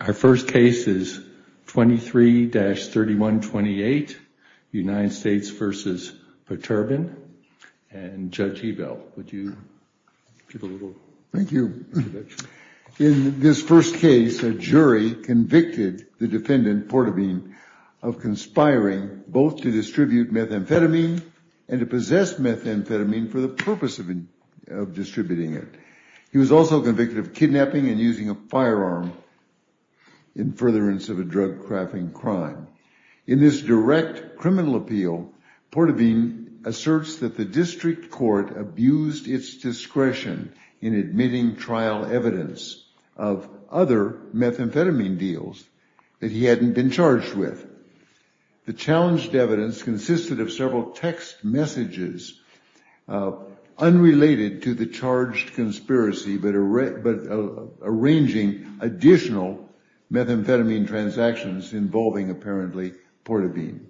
Our first case is 23-3128, United States v. Poterbin. And Judge Ebel, would you give a little introduction? Thank you. In this first case, a jury convicted the defendant, Porterbin, of conspiring both to distribute methamphetamine and to possess methamphetamine for the purpose of distributing it. He was also convicted of kidnapping and using a firearm in furtherance of a drug-crafting crime. In this direct criminal appeal, Porterbin asserts that the district court abused its discretion in admitting trial evidence of other methamphetamine deals that he hadn't been charged with. The challenged evidence consisted of several text messages unrelated to the charged conspiracy, but arranging additional methamphetamine transactions involving, apparently, Porterbin.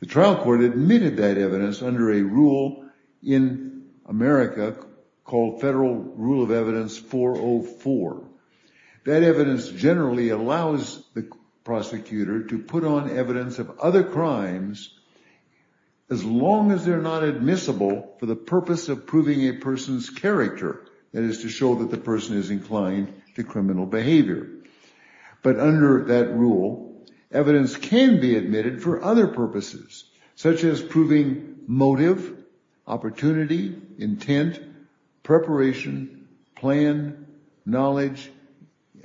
The trial court admitted that evidence under a rule in America called Federal Rule of Evidence 404. That evidence generally allows the prosecutor to put on evidence of other crimes as long as they're not admissible for the purpose of proving a person's character, that is, to show that the person is inclined to criminal behavior. But under that rule, evidence can be admitted for other purposes, such as proving motive, opportunity, intent, preparation, plan, knowledge,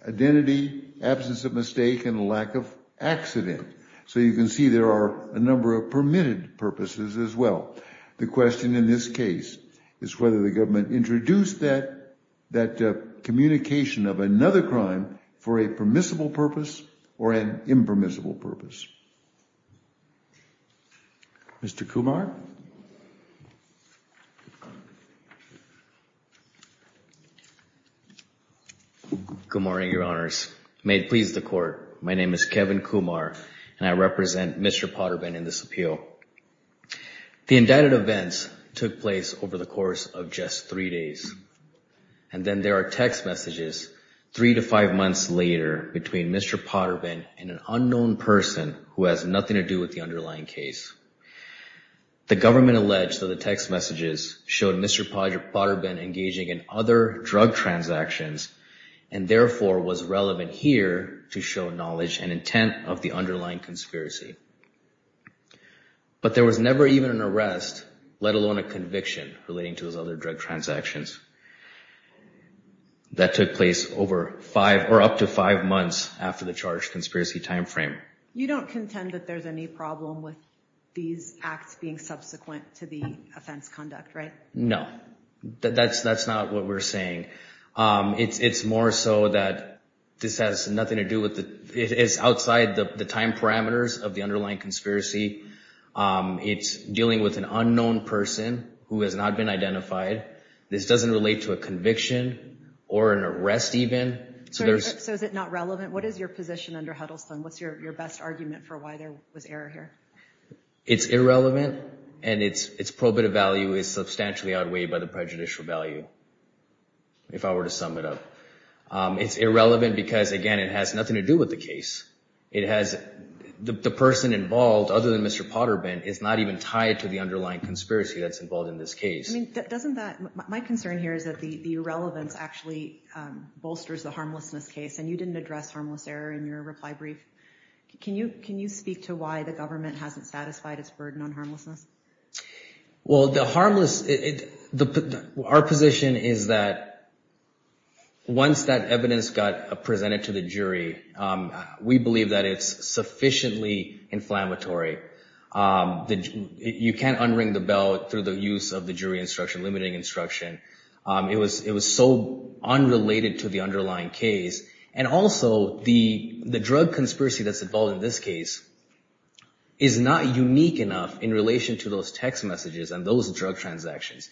identity, absence of mistake, and lack of accident. So you can see there are a number of permitted purposes as well. The question in this case is whether the government introduced that communication of another crime for a permissible purpose or an impermissible purpose. Mr. Kumar? Good morning, Your Honors. May it please the Court, my name is Kevin Kumar, and I represent Mr. Porterbin in this appeal. The indicted events took place over the course of just three days, and then there are text messages three to five months later between Mr. Porterbin and an unknown person who has nothing to do with the underlying case. The government alleged that the text messages showed Mr. Porterbin engaging in other drug transactions, and therefore was relevant here to show knowledge and intent of the underlying conspiracy. But there was never even an arrest, let alone a conviction, relating to his other drug transactions. That took place over five, or up to five months after the charged conspiracy time frame. You don't contend that there's any problem with these acts being subsequent to the offense conduct, right? No, that's not what we're saying. It's more so that this has nothing to do with, it's outside the time parameters of the underlying conspiracy. It's dealing with an unknown person who has not been identified. This doesn't relate to a conviction or an arrest even. So is it not relevant? What is your position under Huddleston? What's your best argument for why there was error here? It's irrelevant, and its probative value is substantially outweighed by the prejudicial value, if I were to sum it up. It's irrelevant because, again, it has nothing to do with the case. The person involved, other than Mr. Porterbin, is not even tied to the underlying conspiracy that's involved in this case. My concern here is that the irrelevance actually bolsters the harmlessness case, and you didn't address harmless error in your reply brief. Can you speak to why the government hasn't satisfied its burden on harmlessness? Our position is that once that evidence got presented to the jury, we believe that it's sufficiently inflammatory. You can't unring the bell through the use of the jury instruction, limiting instruction. It was so unrelated to the underlying case. And also, the drug conspiracy that's involved in this case is not unique enough in relation to those text messages and those drug transactions.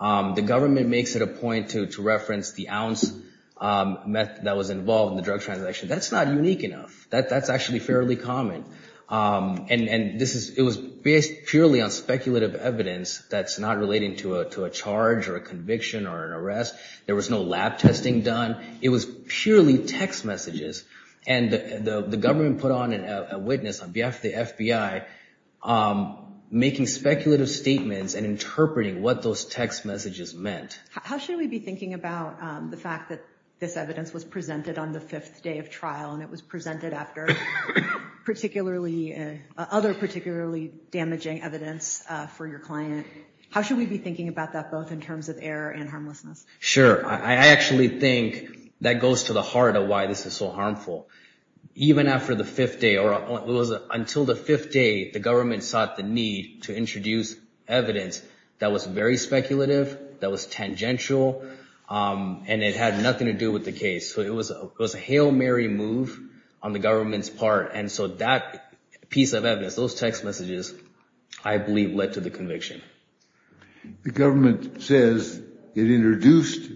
The government makes it a point to reference the ounce that was involved in the drug transaction. That's not unique enough. That's actually fairly common. And it was based purely on speculative evidence that's not relating to a charge or a conviction or an arrest. There was no lab testing done. It was purely text messages. And the government put on a witness on behalf of the FBI, making speculative statements and interpreting what those text messages meant. How should we be thinking about the fact that this evidence was presented on the fifth day of trial, and it was presented after other particularly damaging evidence for your client? How should we be thinking about that, both in terms of error and harmlessness? Sure. I actually think that goes to the heart of why this is so harmful. Even after the fifth day or it was until the fifth day, the government sought the need to introduce evidence that was very speculative. That was tangential. And it had nothing to do with the case. So it was it was a Hail Mary move on the government's part. And so that piece of evidence, those text messages, I believe, led to the conviction. The government says it introduced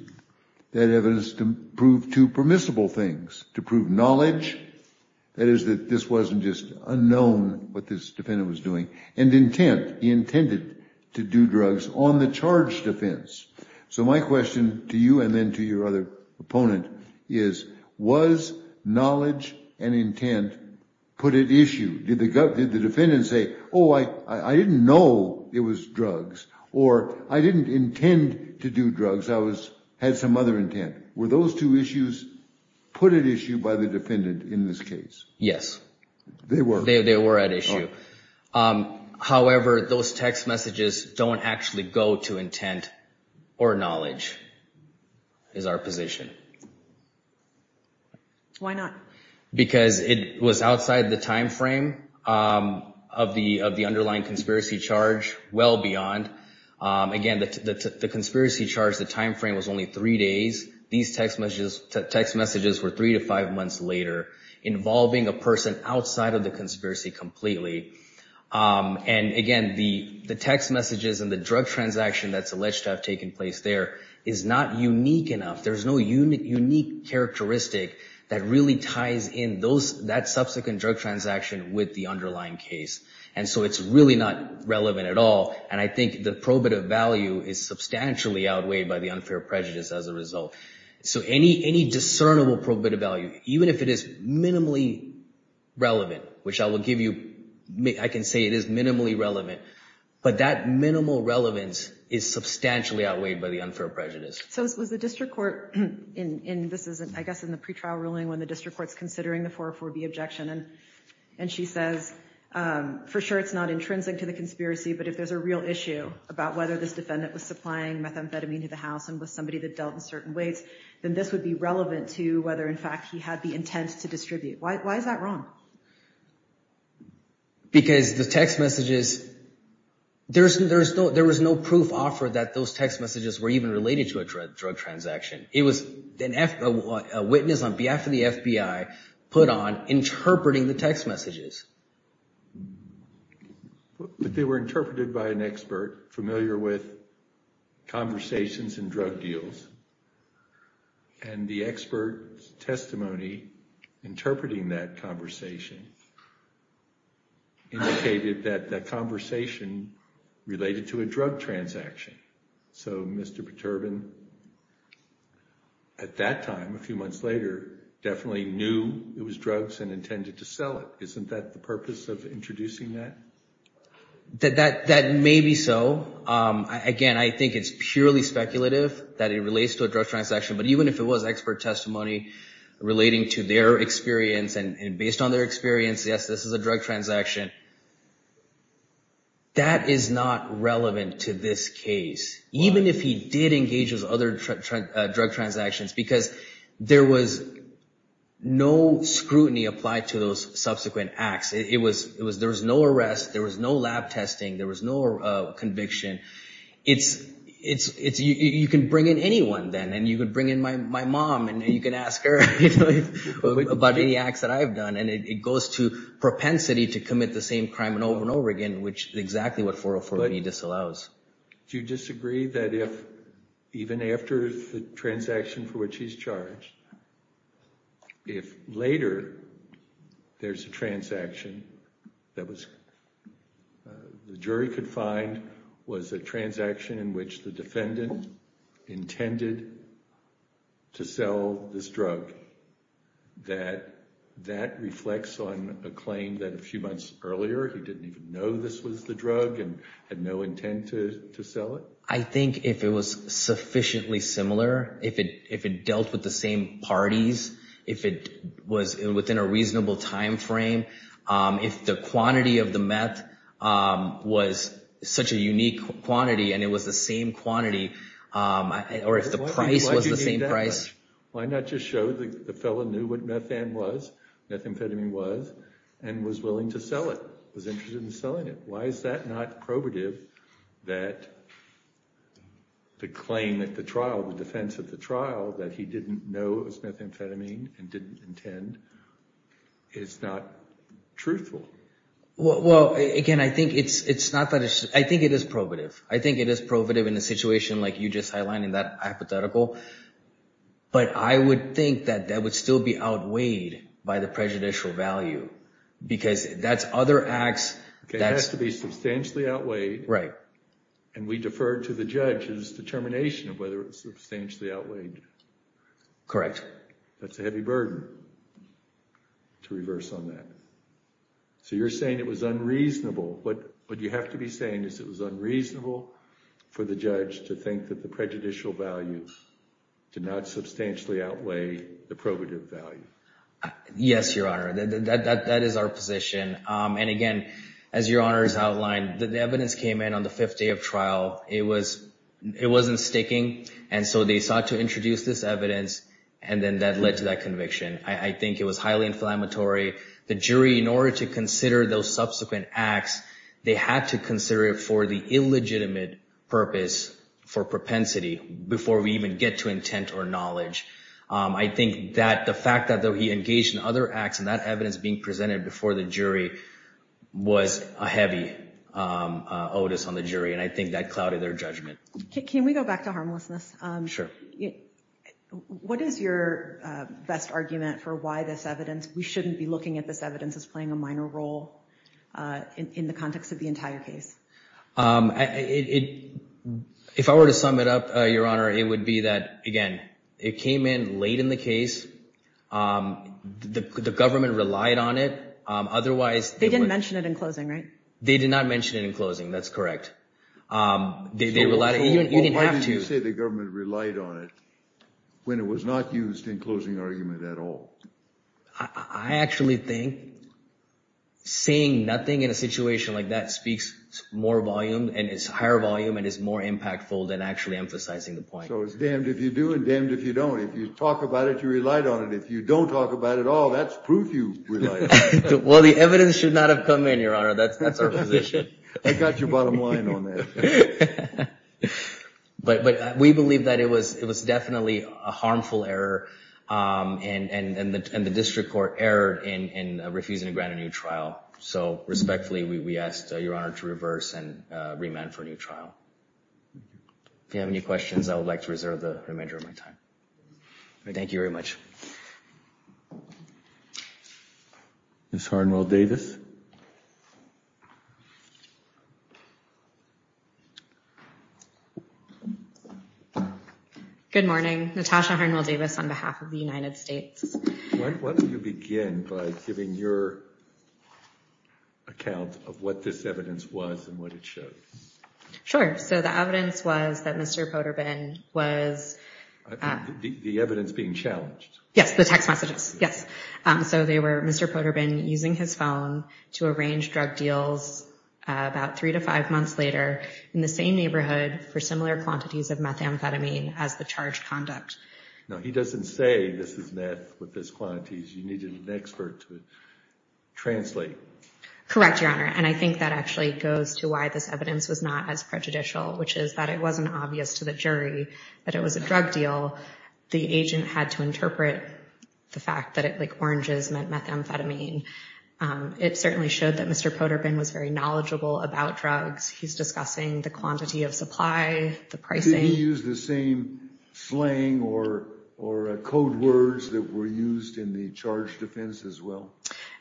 that evidence to prove two permissible things to prove knowledge. That is that this wasn't just unknown what this defendant was doing and intent intended to do drugs on the charge defense. So my question to you and then to your other opponent is, was knowledge and intent put at issue? Did the defendant say, oh, I didn't know it was drugs or I didn't intend to do drugs. I was had some other intent. Were those two issues put at issue by the defendant in this case? Yes, they were. They were at issue. However, those text messages don't actually go to intent or knowledge is our position. Why not? Because it was outside the time frame of the of the underlying conspiracy charge. Well, beyond, again, the conspiracy charge, the time frame was only three days. These text messages, text messages were three to five months later involving a person outside of the conspiracy completely. And again, the the text messages and the drug transaction that's alleged to have taken place there is not unique enough. There's no unique characteristic that really ties in those that subsequent drug transaction with the underlying case. And so it's really not relevant at all. And I think the probative value is substantially outweighed by the unfair prejudice as a result. So any any discernible probative value, even if it is minimally relevant, which I will give you, I can say it is minimally relevant. But that minimal relevance is substantially outweighed by the unfair prejudice. So it was the district court in this is, I guess, in the pretrial ruling when the district court's considering the four or four B objection. And and she says, for sure, it's not intrinsic to the conspiracy. But if there's a real issue about whether this defendant was supplying methamphetamine to the house and with somebody that dealt in certain ways, then this would be relevant to whether, in fact, he had the intent to distribute. Why is that wrong? Because the text messages, there's there's no there was no proof offered that those text messages were even related to a drug transaction. It was a witness on behalf of the FBI put on interpreting the text messages. But they were interpreted by an expert familiar with conversations and drug deals. And the expert testimony interpreting that conversation indicated that that conversation related to a drug transaction. So, Mr. Perturban, at that time, a few months later, definitely knew it was drugs and intended to sell it. Isn't that the purpose of introducing that? That that that may be so. Again, I think it's purely speculative that it relates to a drug transaction. But even if it was expert testimony relating to their experience and based on their experience, yes, this is a drug transaction. That is not relevant to this case, even if he did engage with other drug transactions, because there was no scrutiny applied to those subsequent acts. It was it was there was no arrest. There was no lab testing. There was no conviction. It's it's it's you can bring in anyone then and you could bring in my mom and you can ask her about any acts that I've done. And it goes to propensity to commit the same crime and over and over again, which is exactly what 404B disallows. Do you disagree that if even after the transaction for which he's charged, if later there's a transaction, that was the jury could find was a transaction in which the defendant intended to sell this drug, that that reflects on a claim that a few months earlier he didn't even know this was the drug and had no intent to sell it? I think if it was sufficiently similar, if it if it dealt with the same parties, if it was within a reasonable time frame, if the quantity of the meth was such a unique quantity and it was the same quantity or if the price was the same price. Why not just show that the felon knew what methamphetamine was and was willing to sell it, was interested in selling it? Why is that not probative that the claim that the trial, the defense of the trial, that he didn't know it was methamphetamine and didn't intend is not truthful? Well, again, I think it's not that it's I think it is probative. I think it is probative in a situation like you just highlighted that hypothetical. But I would think that that would still be outweighed by the prejudicial value, because that's other acts. It has to be substantially outweighed, and we defer to the judge's determination of whether it's substantially outweighed. Correct. That's a heavy burden to reverse on that. So you're saying it was unreasonable, but what you have to be saying is it was unreasonable for the judge to think that the prejudicial value did not substantially outweigh the probative value. Yes, Your Honor. That is our position. And again, as Your Honor has outlined, the evidence came in on the fifth day of trial. It was it wasn't sticking. And so they sought to introduce this evidence. And then that led to that conviction. I think it was highly inflammatory. The jury, in order to consider those subsequent acts, they had to consider it for the illegitimate purpose for propensity before we even get to intent or knowledge. I think that the fact that he engaged in other acts and that evidence being presented before the jury was a heavy otis on the jury. And I think that clouded their judgment. Can we go back to harmlessness? Sure. What is your best argument for why this evidence we shouldn't be looking at this evidence as playing a minor role in the context of the entire case? If I were to sum it up, Your Honor, it would be that, again, it came in late in the case. The government relied on it. Otherwise, they didn't mention it in closing, right? They did not mention it in closing. That's correct. Why did you say the government relied on it when it was not used in closing argument at all? I actually think saying nothing in a situation like that speaks more volume and is higher volume and is more impactful than actually emphasizing the point. So it's damned if you do and damned if you don't. If you talk about it, you relied on it. If you don't talk about it at all, that's proof you relied on it. Well, the evidence should not have come in, Your Honor. That's our position. I got your bottom line on that. But we believe that it was definitely a harmful error and the district court erred in refusing to grant a new trial. So respectfully, we ask Your Honor to reverse and remand for a new trial. If you have any questions, I would like to reserve the remainder of my time. Thank you very much. Good morning. Natasha Harnwell Davis on behalf of the United States. What do you begin by giving your account of what this evidence was and what it showed? Sure. So the evidence was that Mr. Poterbin was... The evidence being challenged. Yes, the text messages. Yes. So they were Mr. Poterbin using his phone to arrange drug deals about three to five months later in the same neighborhood for similar quantities of methamphetamine as the charged conduct. Now, he doesn't say this is meth with this quantities. You needed an expert to translate. Correct, Your Honor. And I think that actually goes to why this evidence was not as prejudicial, which is that it wasn't obvious to the jury that it was a drug deal. The agent had to interpret the fact that it like oranges methamphetamine. It certainly showed that Mr. Poterbin was very knowledgeable about drugs. He's discussing the quantity of supply, the pricing. Did he use the same slang or code words that were used in the charge defense as well?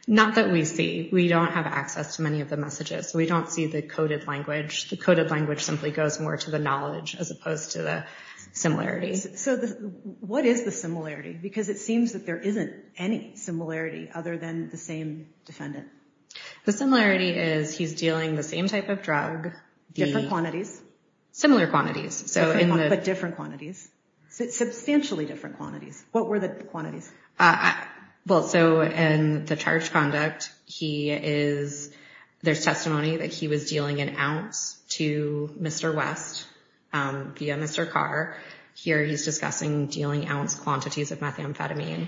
Not that we see. We don't have access to many of the messages. We don't see the coded language. The coded language simply goes more to the knowledge as opposed to the similarities. So what is the similarity? Because it seems that there isn't any similarity other than the same defendant. The similarity is he's dealing the same type of drug, different quantities, similar quantities. So in the different quantities, substantially different quantities. What were the quantities? Well, so in the charge conduct, there's testimony that he was dealing an ounce to Mr. West via Mr. Carr. Here he's discussing dealing ounce quantities of methamphetamine.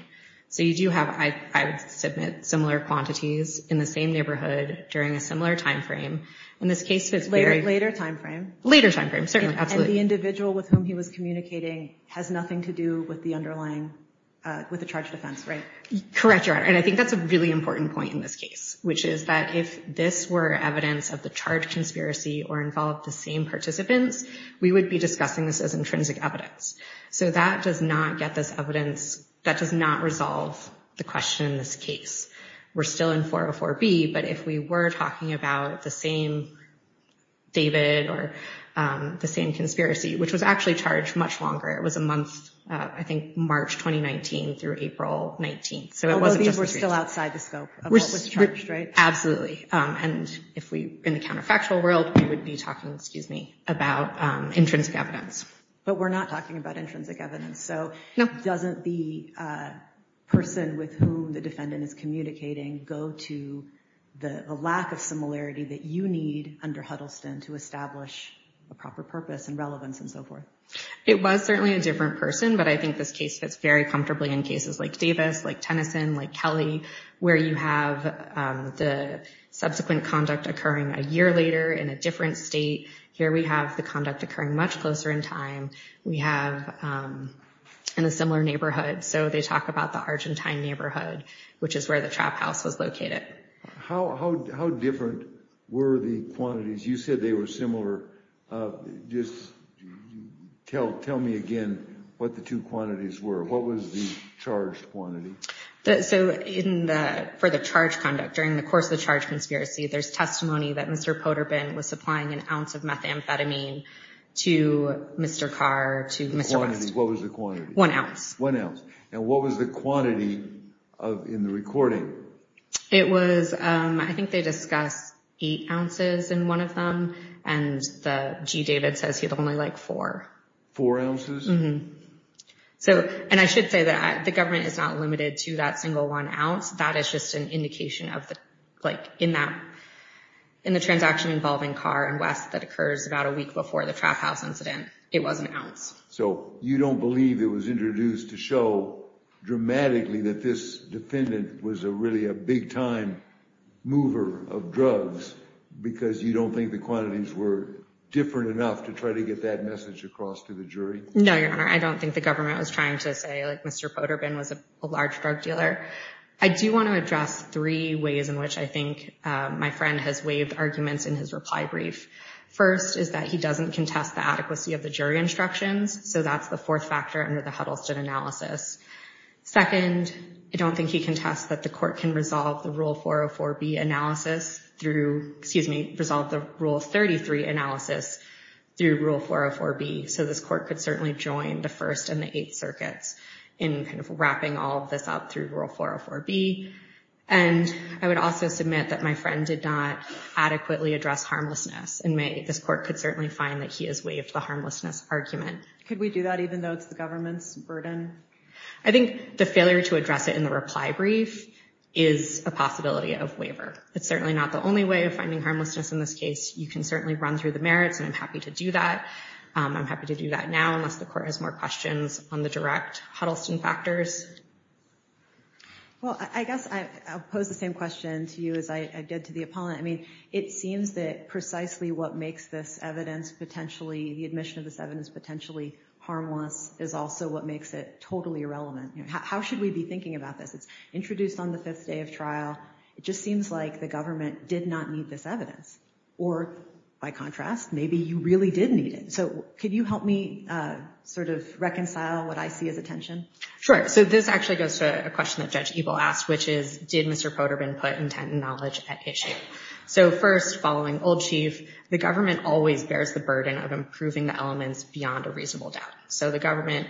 So you do have, I would submit, similar quantities in the same neighborhood during a similar time frame. Later time frame. Later time frame. Certainly. Absolutely. So the individual with whom he was communicating has nothing to do with the underlying, with the charge defense, right? Correct. And I think that's a really important point in this case, which is that if this were evidence of the charge conspiracy or involved the same participants, we would be discussing this as intrinsic evidence. So that does not get this evidence. That does not resolve the question in this case. We're still in 404B. But if we were talking about the same David or the same conspiracy, which was actually charged much longer, it was a month, I think, March 2019 through April 19. So it was still outside the scope of what was charged, right? Absolutely. And if we in the counterfactual world, we would be talking, excuse me, about intrinsic evidence. But we're not talking about intrinsic evidence. So doesn't the person with whom the defendant is communicating go to the lack of similarity that you need under Huddleston to establish a proper purpose and relevance and so forth? It was certainly a different person. But I think this case fits very comfortably in cases like Davis, like Tennyson, like Kelly, where you have the subsequent conduct occurring a year later in a different state. Here we have the conduct occurring much closer in time. We have in a similar neighborhood. So they talk about the Argentine neighborhood, which is where the trap house was located. How different were the quantities? You said they were similar. Tell me again what the two quantities were. What was the charged quantity? So for the charge conduct, during the course of the charge conspiracy, there's testimony that Mr. Poterbin was supplying an ounce of methamphetamine to Mr. Carr, to Mr. West. What was the quantity? One ounce. And what was the quantity in the recording? It was, I think they discussed eight ounces in one of them. And G. David says he'd only like four. Four ounces? Mm-hmm. And I should say that the government is not limited to that single one ounce. That is just an indication in the transaction involving Carr and West that occurs about a week before the trap house incident. It was an ounce. So you don't believe it was introduced to show dramatically that this defendant was really a big-time mover of drugs because you don't think the quantities were different enough to try to get that message across to the jury? No, Your Honor. I don't think the government was trying to say, like, Mr. Poterbin was a large drug dealer. I do want to address three ways in which I think my friend has waived arguments in his reply brief. First is that he doesn't contest the adequacy of the jury instructions. So that's the fourth factor under the Huddleston analysis. Second, I don't think he contests that the court can resolve the Rule 404B analysis through— excuse me, resolve the Rule 33 analysis through Rule 404B. So this court could certainly join the First and the Eighth Circuits in kind of wrapping all of this up through Rule 404B. And I would also submit that my friend did not adequately address harmlessness in May. This court could certainly find that he has waived the harmlessness argument. Could we do that even though it's the government's burden? I think the failure to address it in the reply brief is a possibility of waiver. It's certainly not the only way of finding harmlessness in this case. You can certainly run through the merits, and I'm happy to do that. I'm happy to do that now unless the court has more questions on the direct Huddleston factors. Well, I guess I'll pose the same question to you as I did to the opponent. I mean, it seems that precisely what makes this evidence potentially— the admission of this evidence potentially harmless is also what makes it totally irrelevant. How should we be thinking about this? It's introduced on the fifth day of trial. It just seems like the government did not need this evidence. Or, by contrast, maybe you really did need it. So could you help me sort of reconcile what I see as a tension? Sure. So this actually goes to a question that Judge Ebel asked, which is, did Mr. Poterbin put intent and knowledge at issue? So first, following Old Chief, the government always bears the burden of improving the elements beyond a reasonable doubt. So the government,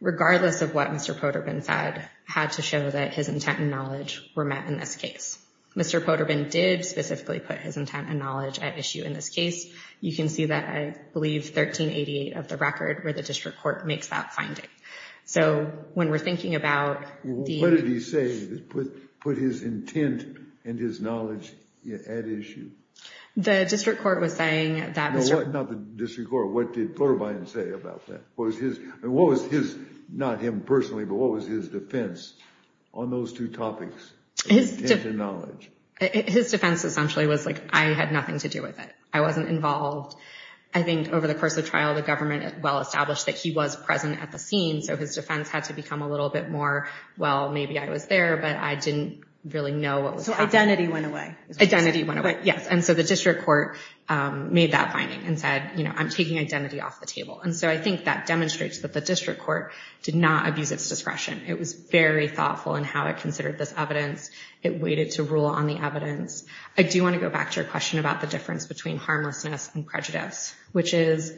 regardless of what Mr. Poterbin said, had to show that his intent and knowledge were met in this case. Mr. Poterbin did specifically put his intent and knowledge at issue in this case. You can see that, I believe, 1388 of the record where the district court makes that finding. So when we're thinking about the— What did he say that put his intent and his knowledge at issue? The district court was saying that— No, not the district court. What did Poterbin say about that? What was his—not him personally, but what was his defense on those two topics, intent and knowledge? His defense essentially was like, I had nothing to do with it. I wasn't involved. I think over the course of trial, the government well-established that he was present at the scene, so his defense had to become a little bit more, well, maybe I was there, but I didn't really know what was happening. So identity went away. Identity went away, yes. And so the district court made that finding and said, you know, I'm taking identity off the table. And so I think that demonstrates that the district court did not abuse its discretion. It was very thoughtful in how it considered this evidence. It waited to rule on the evidence. I do want to go back to your question about the difference between harmlessness and prejudice, which is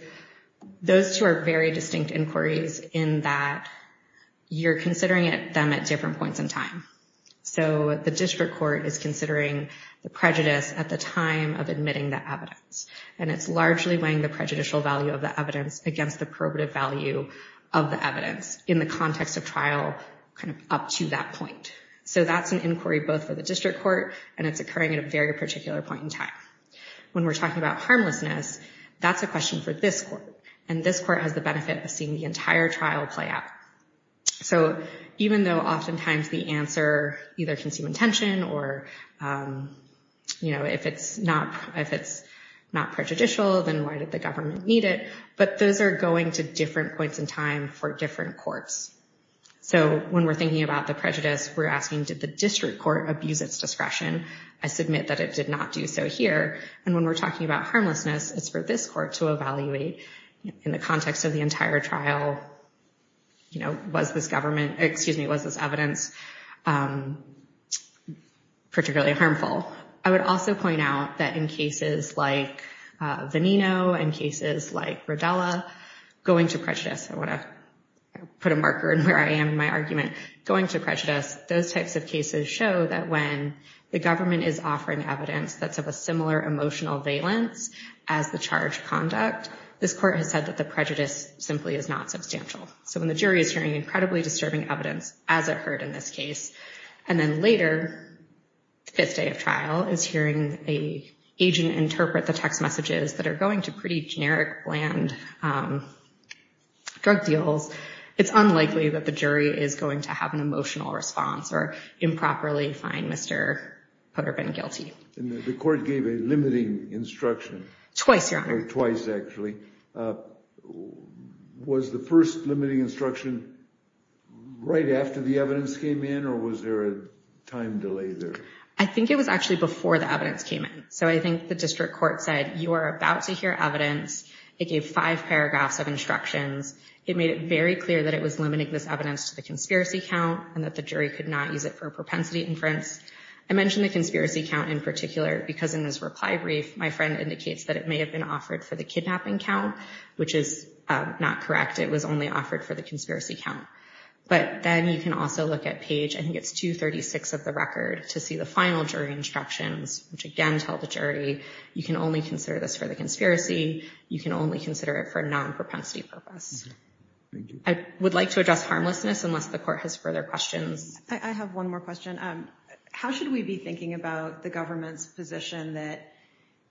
those two are very distinct inquiries in that you're considering them at different points in time. So the district court is considering the prejudice at the time of admitting the evidence, and it's largely weighing the prejudicial value of the evidence against the probative value of the evidence in the context of trial, kind of up to that point. So that's an inquiry both for the district court, and it's occurring at a very particular point in time. When we're talking about harmlessness, that's a question for this court, and this court has the benefit of seeing the entire trial play out. So even though oftentimes the answer either can seem intention or, you know, if it's not prejudicial, then why did the government need it? But those are going to different points in time for different courts. So when we're thinking about the prejudice, we're asking, did the district court abuse its discretion? I submit that it did not do so here. And when we're talking about harmlessness, it's for this court to evaluate in the context of the entire trial, you know, was this government, excuse me, was this evidence particularly harmful? I would also point out that in cases like Veneno and cases like Rodella, going to prejudice, I want to put a marker in where I am in my argument, going to prejudice, those types of cases show that when the government is offering evidence that's of a similar emotional valence as the charged conduct, this court has said that the prejudice simply is not substantial. So when the jury is hearing incredibly disturbing evidence, as it heard in this case, and then later the fifth day of trial is hearing an agent interpret the text messages that are going to pretty generic, bland drug deals, it's unlikely that the jury is going to have an emotional response or improperly find Mr. Putterbin guilty. And the court gave a limiting instruction. Twice, Your Honor. Twice, actually. Was the first limiting instruction right after the evidence came in, or was there a time delay there? I think it was actually before the evidence came in. So I think the district court said, you are about to hear evidence. It gave five paragraphs of instructions. It made it very clear that it was limiting this evidence to the conspiracy count and that the jury could not use it for a propensity inference. I mentioned the conspiracy count in particular because in this reply brief, my friend indicates that it may have been offered for the kidnapping count, which is not correct. It was only offered for the conspiracy count. But then you can also look at page, I think it's 236 of the record, to see the final jury instructions, which again tell the jury you can only consider this for the conspiracy. You can only consider it for a non-propensity purpose. I would like to address harmlessness unless the court has further questions. I have one more question. How should we be thinking about the government's position that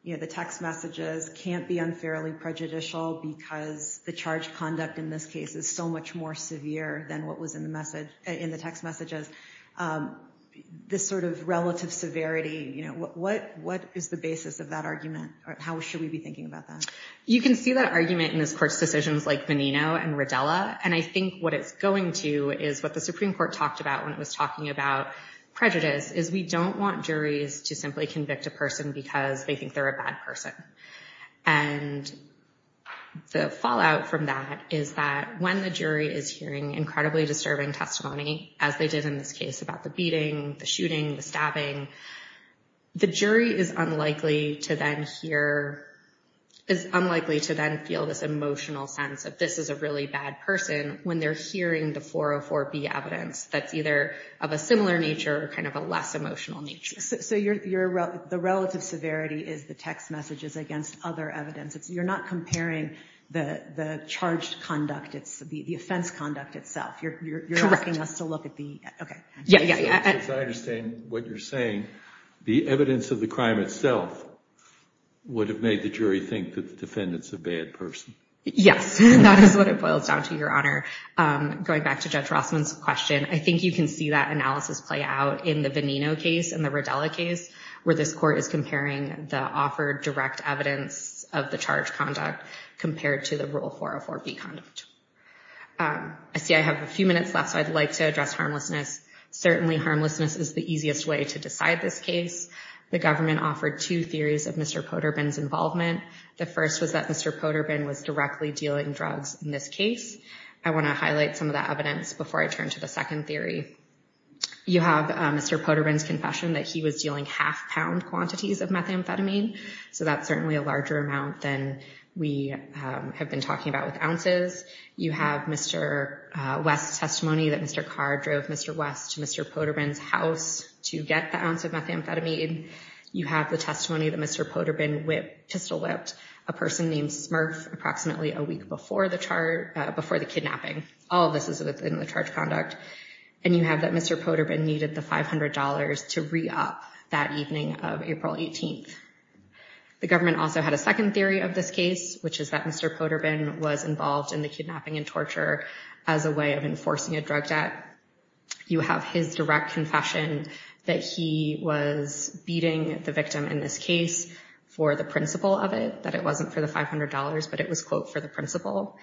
the text messages can't be unfairly prejudicial because the charge conduct in this case is so much more severe than what was in the text messages? This sort of relative severity, what is the basis of that argument? How should we be thinking about that? You can see that argument in this court's decisions like Menino and Rodella, and I think what it's going to is what the Supreme Court talked about when it was talking about prejudice, is we don't want juries to simply convict a person because they think they're a bad person. And the fallout from that is that when the jury is hearing incredibly disturbing testimony, as they did in this case about the beating, the shooting, the stabbing, the jury is unlikely to then feel this emotional sense of this is a really bad person when they're hearing the 404B evidence that's either of a similar nature or kind of a less emotional nature. So the relative severity is the text messages against other evidence. You're not comparing the charged conduct, it's the offense conduct itself. You're asking us to look at the, okay. Yeah, yeah, yeah. As I understand what you're saying, the evidence of the crime itself would have made the jury think that the defendant's a bad person. Yes, that is what it boils down to, Your Honor. Going back to Judge Rossman's question, I think you can see that analysis play out in the Venino case and the Rodella case, where this court is comparing the offered direct evidence of the charged conduct compared to the rule 404B conduct. I see I have a few minutes left, so I'd like to address harmlessness. Certainly, harmlessness is the easiest way to decide this case. The government offered two theories of Mr. Poterbin's involvement. The first was that Mr. Poterbin was directly dealing drugs in this case. I want to highlight some of that evidence before I turn to the second theory. You have Mr. Poterbin's confession that he was dealing half-pound quantities of methamphetamine, so that's certainly a larger amount than we have been talking about with ounces. You have Mr. West's testimony that Mr. Carr drove Mr. West to Mr. Poterbin's house to get the ounce of methamphetamine. You have the testimony that Mr. Poterbin pistol-whipped a person named Smurf approximately a week before the kidnapping. All of this is within the charged conduct. And you have that Mr. Poterbin needed the $500 to re-op that evening of April 18th. The government also had a second theory of this case, which is that Mr. Poterbin was involved in the kidnapping and torture as a way of enforcing a drug debt. You have his direct confession that he was beating the victim in this case for the principle of it, that it wasn't for the $500, but it was, quote, for the principle.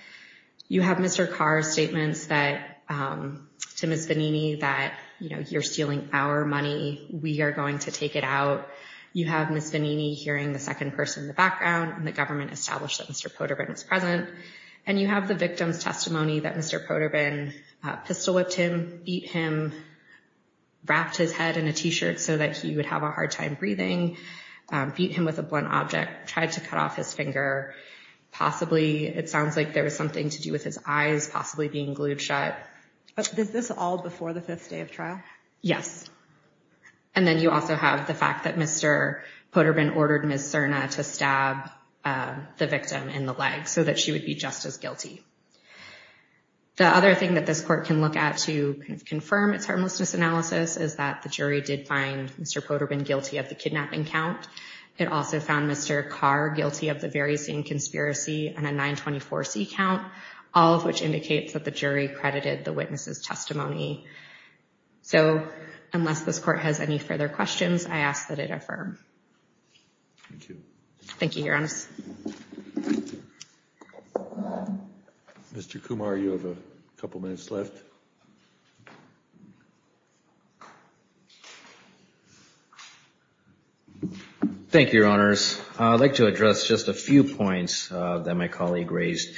You have Mr. Carr's statements to Ms. Vanini that, you know, you're stealing our money, we are going to take it out. You have Ms. Vanini hearing the second person in the background, and the government established that Mr. Poterbin was present. And you have the victim's testimony that Mr. Poterbin pistol-whipped him, beat him, wrapped his head in a T-shirt so that he would have a hard time breathing, beat him with a blunt object, tried to cut off his finger. Possibly, it sounds like there was something to do with his eyes possibly being glued shut. Is this all before the fifth day of trial? Yes. And then you also have the fact that Mr. Poterbin ordered Ms. Serna to stab the victim in the leg so that she would be just as guilty. The other thing that this court can look at to confirm its harmlessness analysis is that the jury did find Mr. Poterbin guilty of the kidnapping count. It also found Mr. Carr guilty of the very same conspiracy and a 924C count, all of which indicates that the jury credited the witness's testimony. So, unless this court has any further questions, I ask that it affirm. Thank you. Thank you, Your Honor. Mr. Kumar, you have a couple minutes left. Thank you, Your Honors. I'd like to address just a few points that my colleague raised.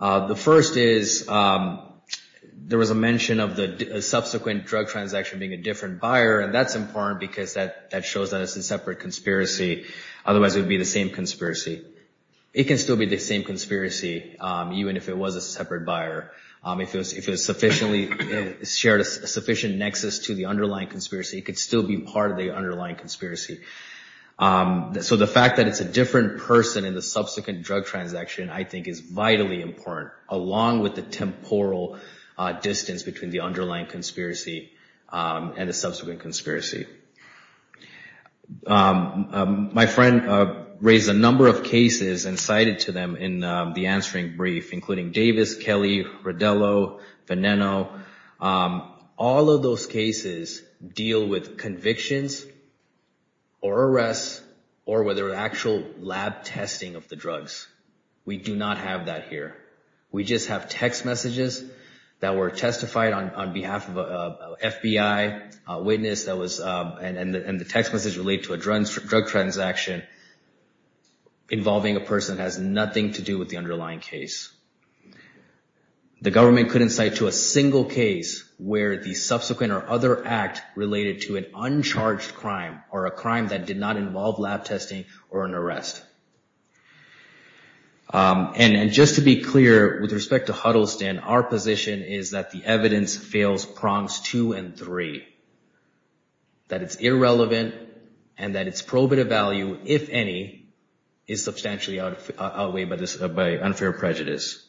The first is, there was a mention of the subsequent drug transaction being a different buyer, and that's important because that shows that it's a separate conspiracy. Otherwise, it would be the same conspiracy. It can still be the same conspiracy, even if it was a separate buyer. If it was sufficiently, shared a sufficient nexus to the underlying conspiracy, it could still be part of the underlying conspiracy. So, the fact that it's a different person in the subsequent drug transaction, I think is vitally important, along with the temporal distance between the underlying conspiracy and the subsequent conspiracy. My friend raised a number of cases and cited to them in the answering brief, including Davis, Kelly, Rodello, Veneno. All of those cases deal with convictions, or arrests, or whether actual lab testing of the drugs. We do not have that here. We just have text messages that were testified on behalf of an FBI witness, and the text messages relate to a drug transaction involving a person that has nothing to do with the underlying case. The government couldn't cite to a single case where the subsequent or other act related to an uncharged crime, or a crime that did not involve lab testing or an arrest. And just to be clear, with respect to Huddleston, our position is that the evidence fails prongs two and three. That it's irrelevant, and that it's probative value, if any, is substantially outweighed by unfair prejudice.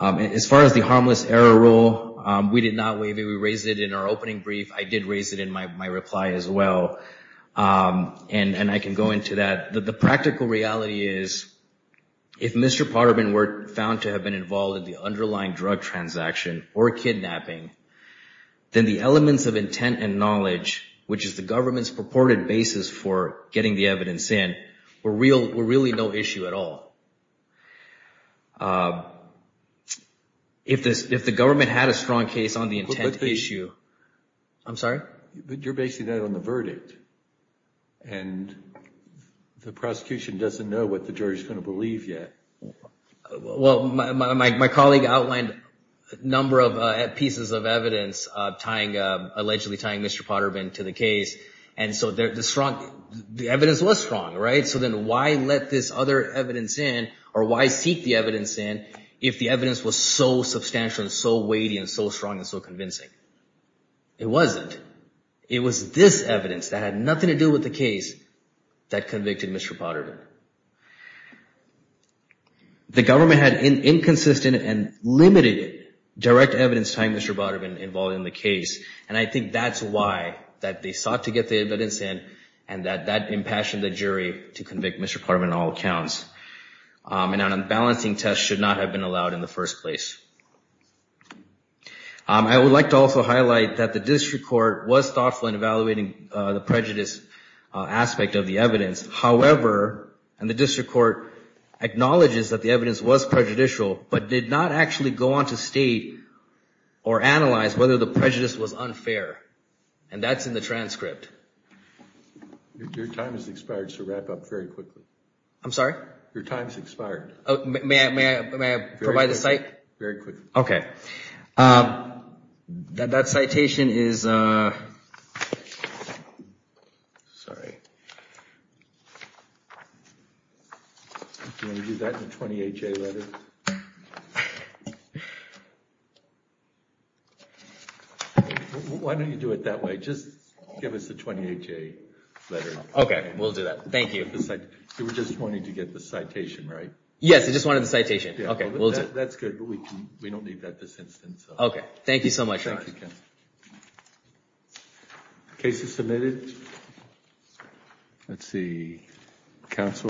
As far as the harmless error rule, we did not waive it. We raised it in our opening brief. I did raise it in my reply as well. And I can go into that. The practical reality is, if Mr. Potterman were found to have been involved in the underlying drug transaction or kidnapping, then the elements of intent and knowledge, which is the government's purported basis for getting the evidence in, were really no issue at all. If the government had a strong case on the intent issue... I'm sorry? But you're basing that on the verdict. And the prosecution doesn't know what the jury's going to believe yet. Well, my colleague outlined a number of pieces of evidence allegedly tying Mr. Potterman to the case. And so the evidence was strong, right? So then why let this other evidence in, or why seek the evidence in if the evidence was so substantial and so weighty and so strong and so convincing? It wasn't. It was this evidence that had nothing to do with the case that convicted Mr. Potterman. The government had inconsistent and limited direct evidence tying Mr. Potterman involved in the case. And I think that's why they sought to get the evidence in and that impassioned the jury to convict Mr. Potterman on all accounts. And an unbalancing test should not have been allowed in the first place. I would like to also highlight that the district court was thoughtful in evaluating the prejudice aspect of the evidence. However, and the district court acknowledges that the evidence was prejudicial, but did not actually go on to state or analyze whether the prejudice was unfair. And that's in the transcript. Your time has expired, so wrap up very quickly. I'm sorry? Your time has expired. May I provide the cite? Very quickly. Okay. That citation is... Sorry. Do you want to do that in the 20HA letter? Why don't you do it that way? Just give us the 20HA letter. Okay, we'll do that. Thank you. You were just wanting to get the citation, right? Yes, I just wanted the citation. Okay, we'll do it. That's good, but we don't need that this instance. Okay. Thank you so much. Thank you, counsel. Case is submitted. Let's see.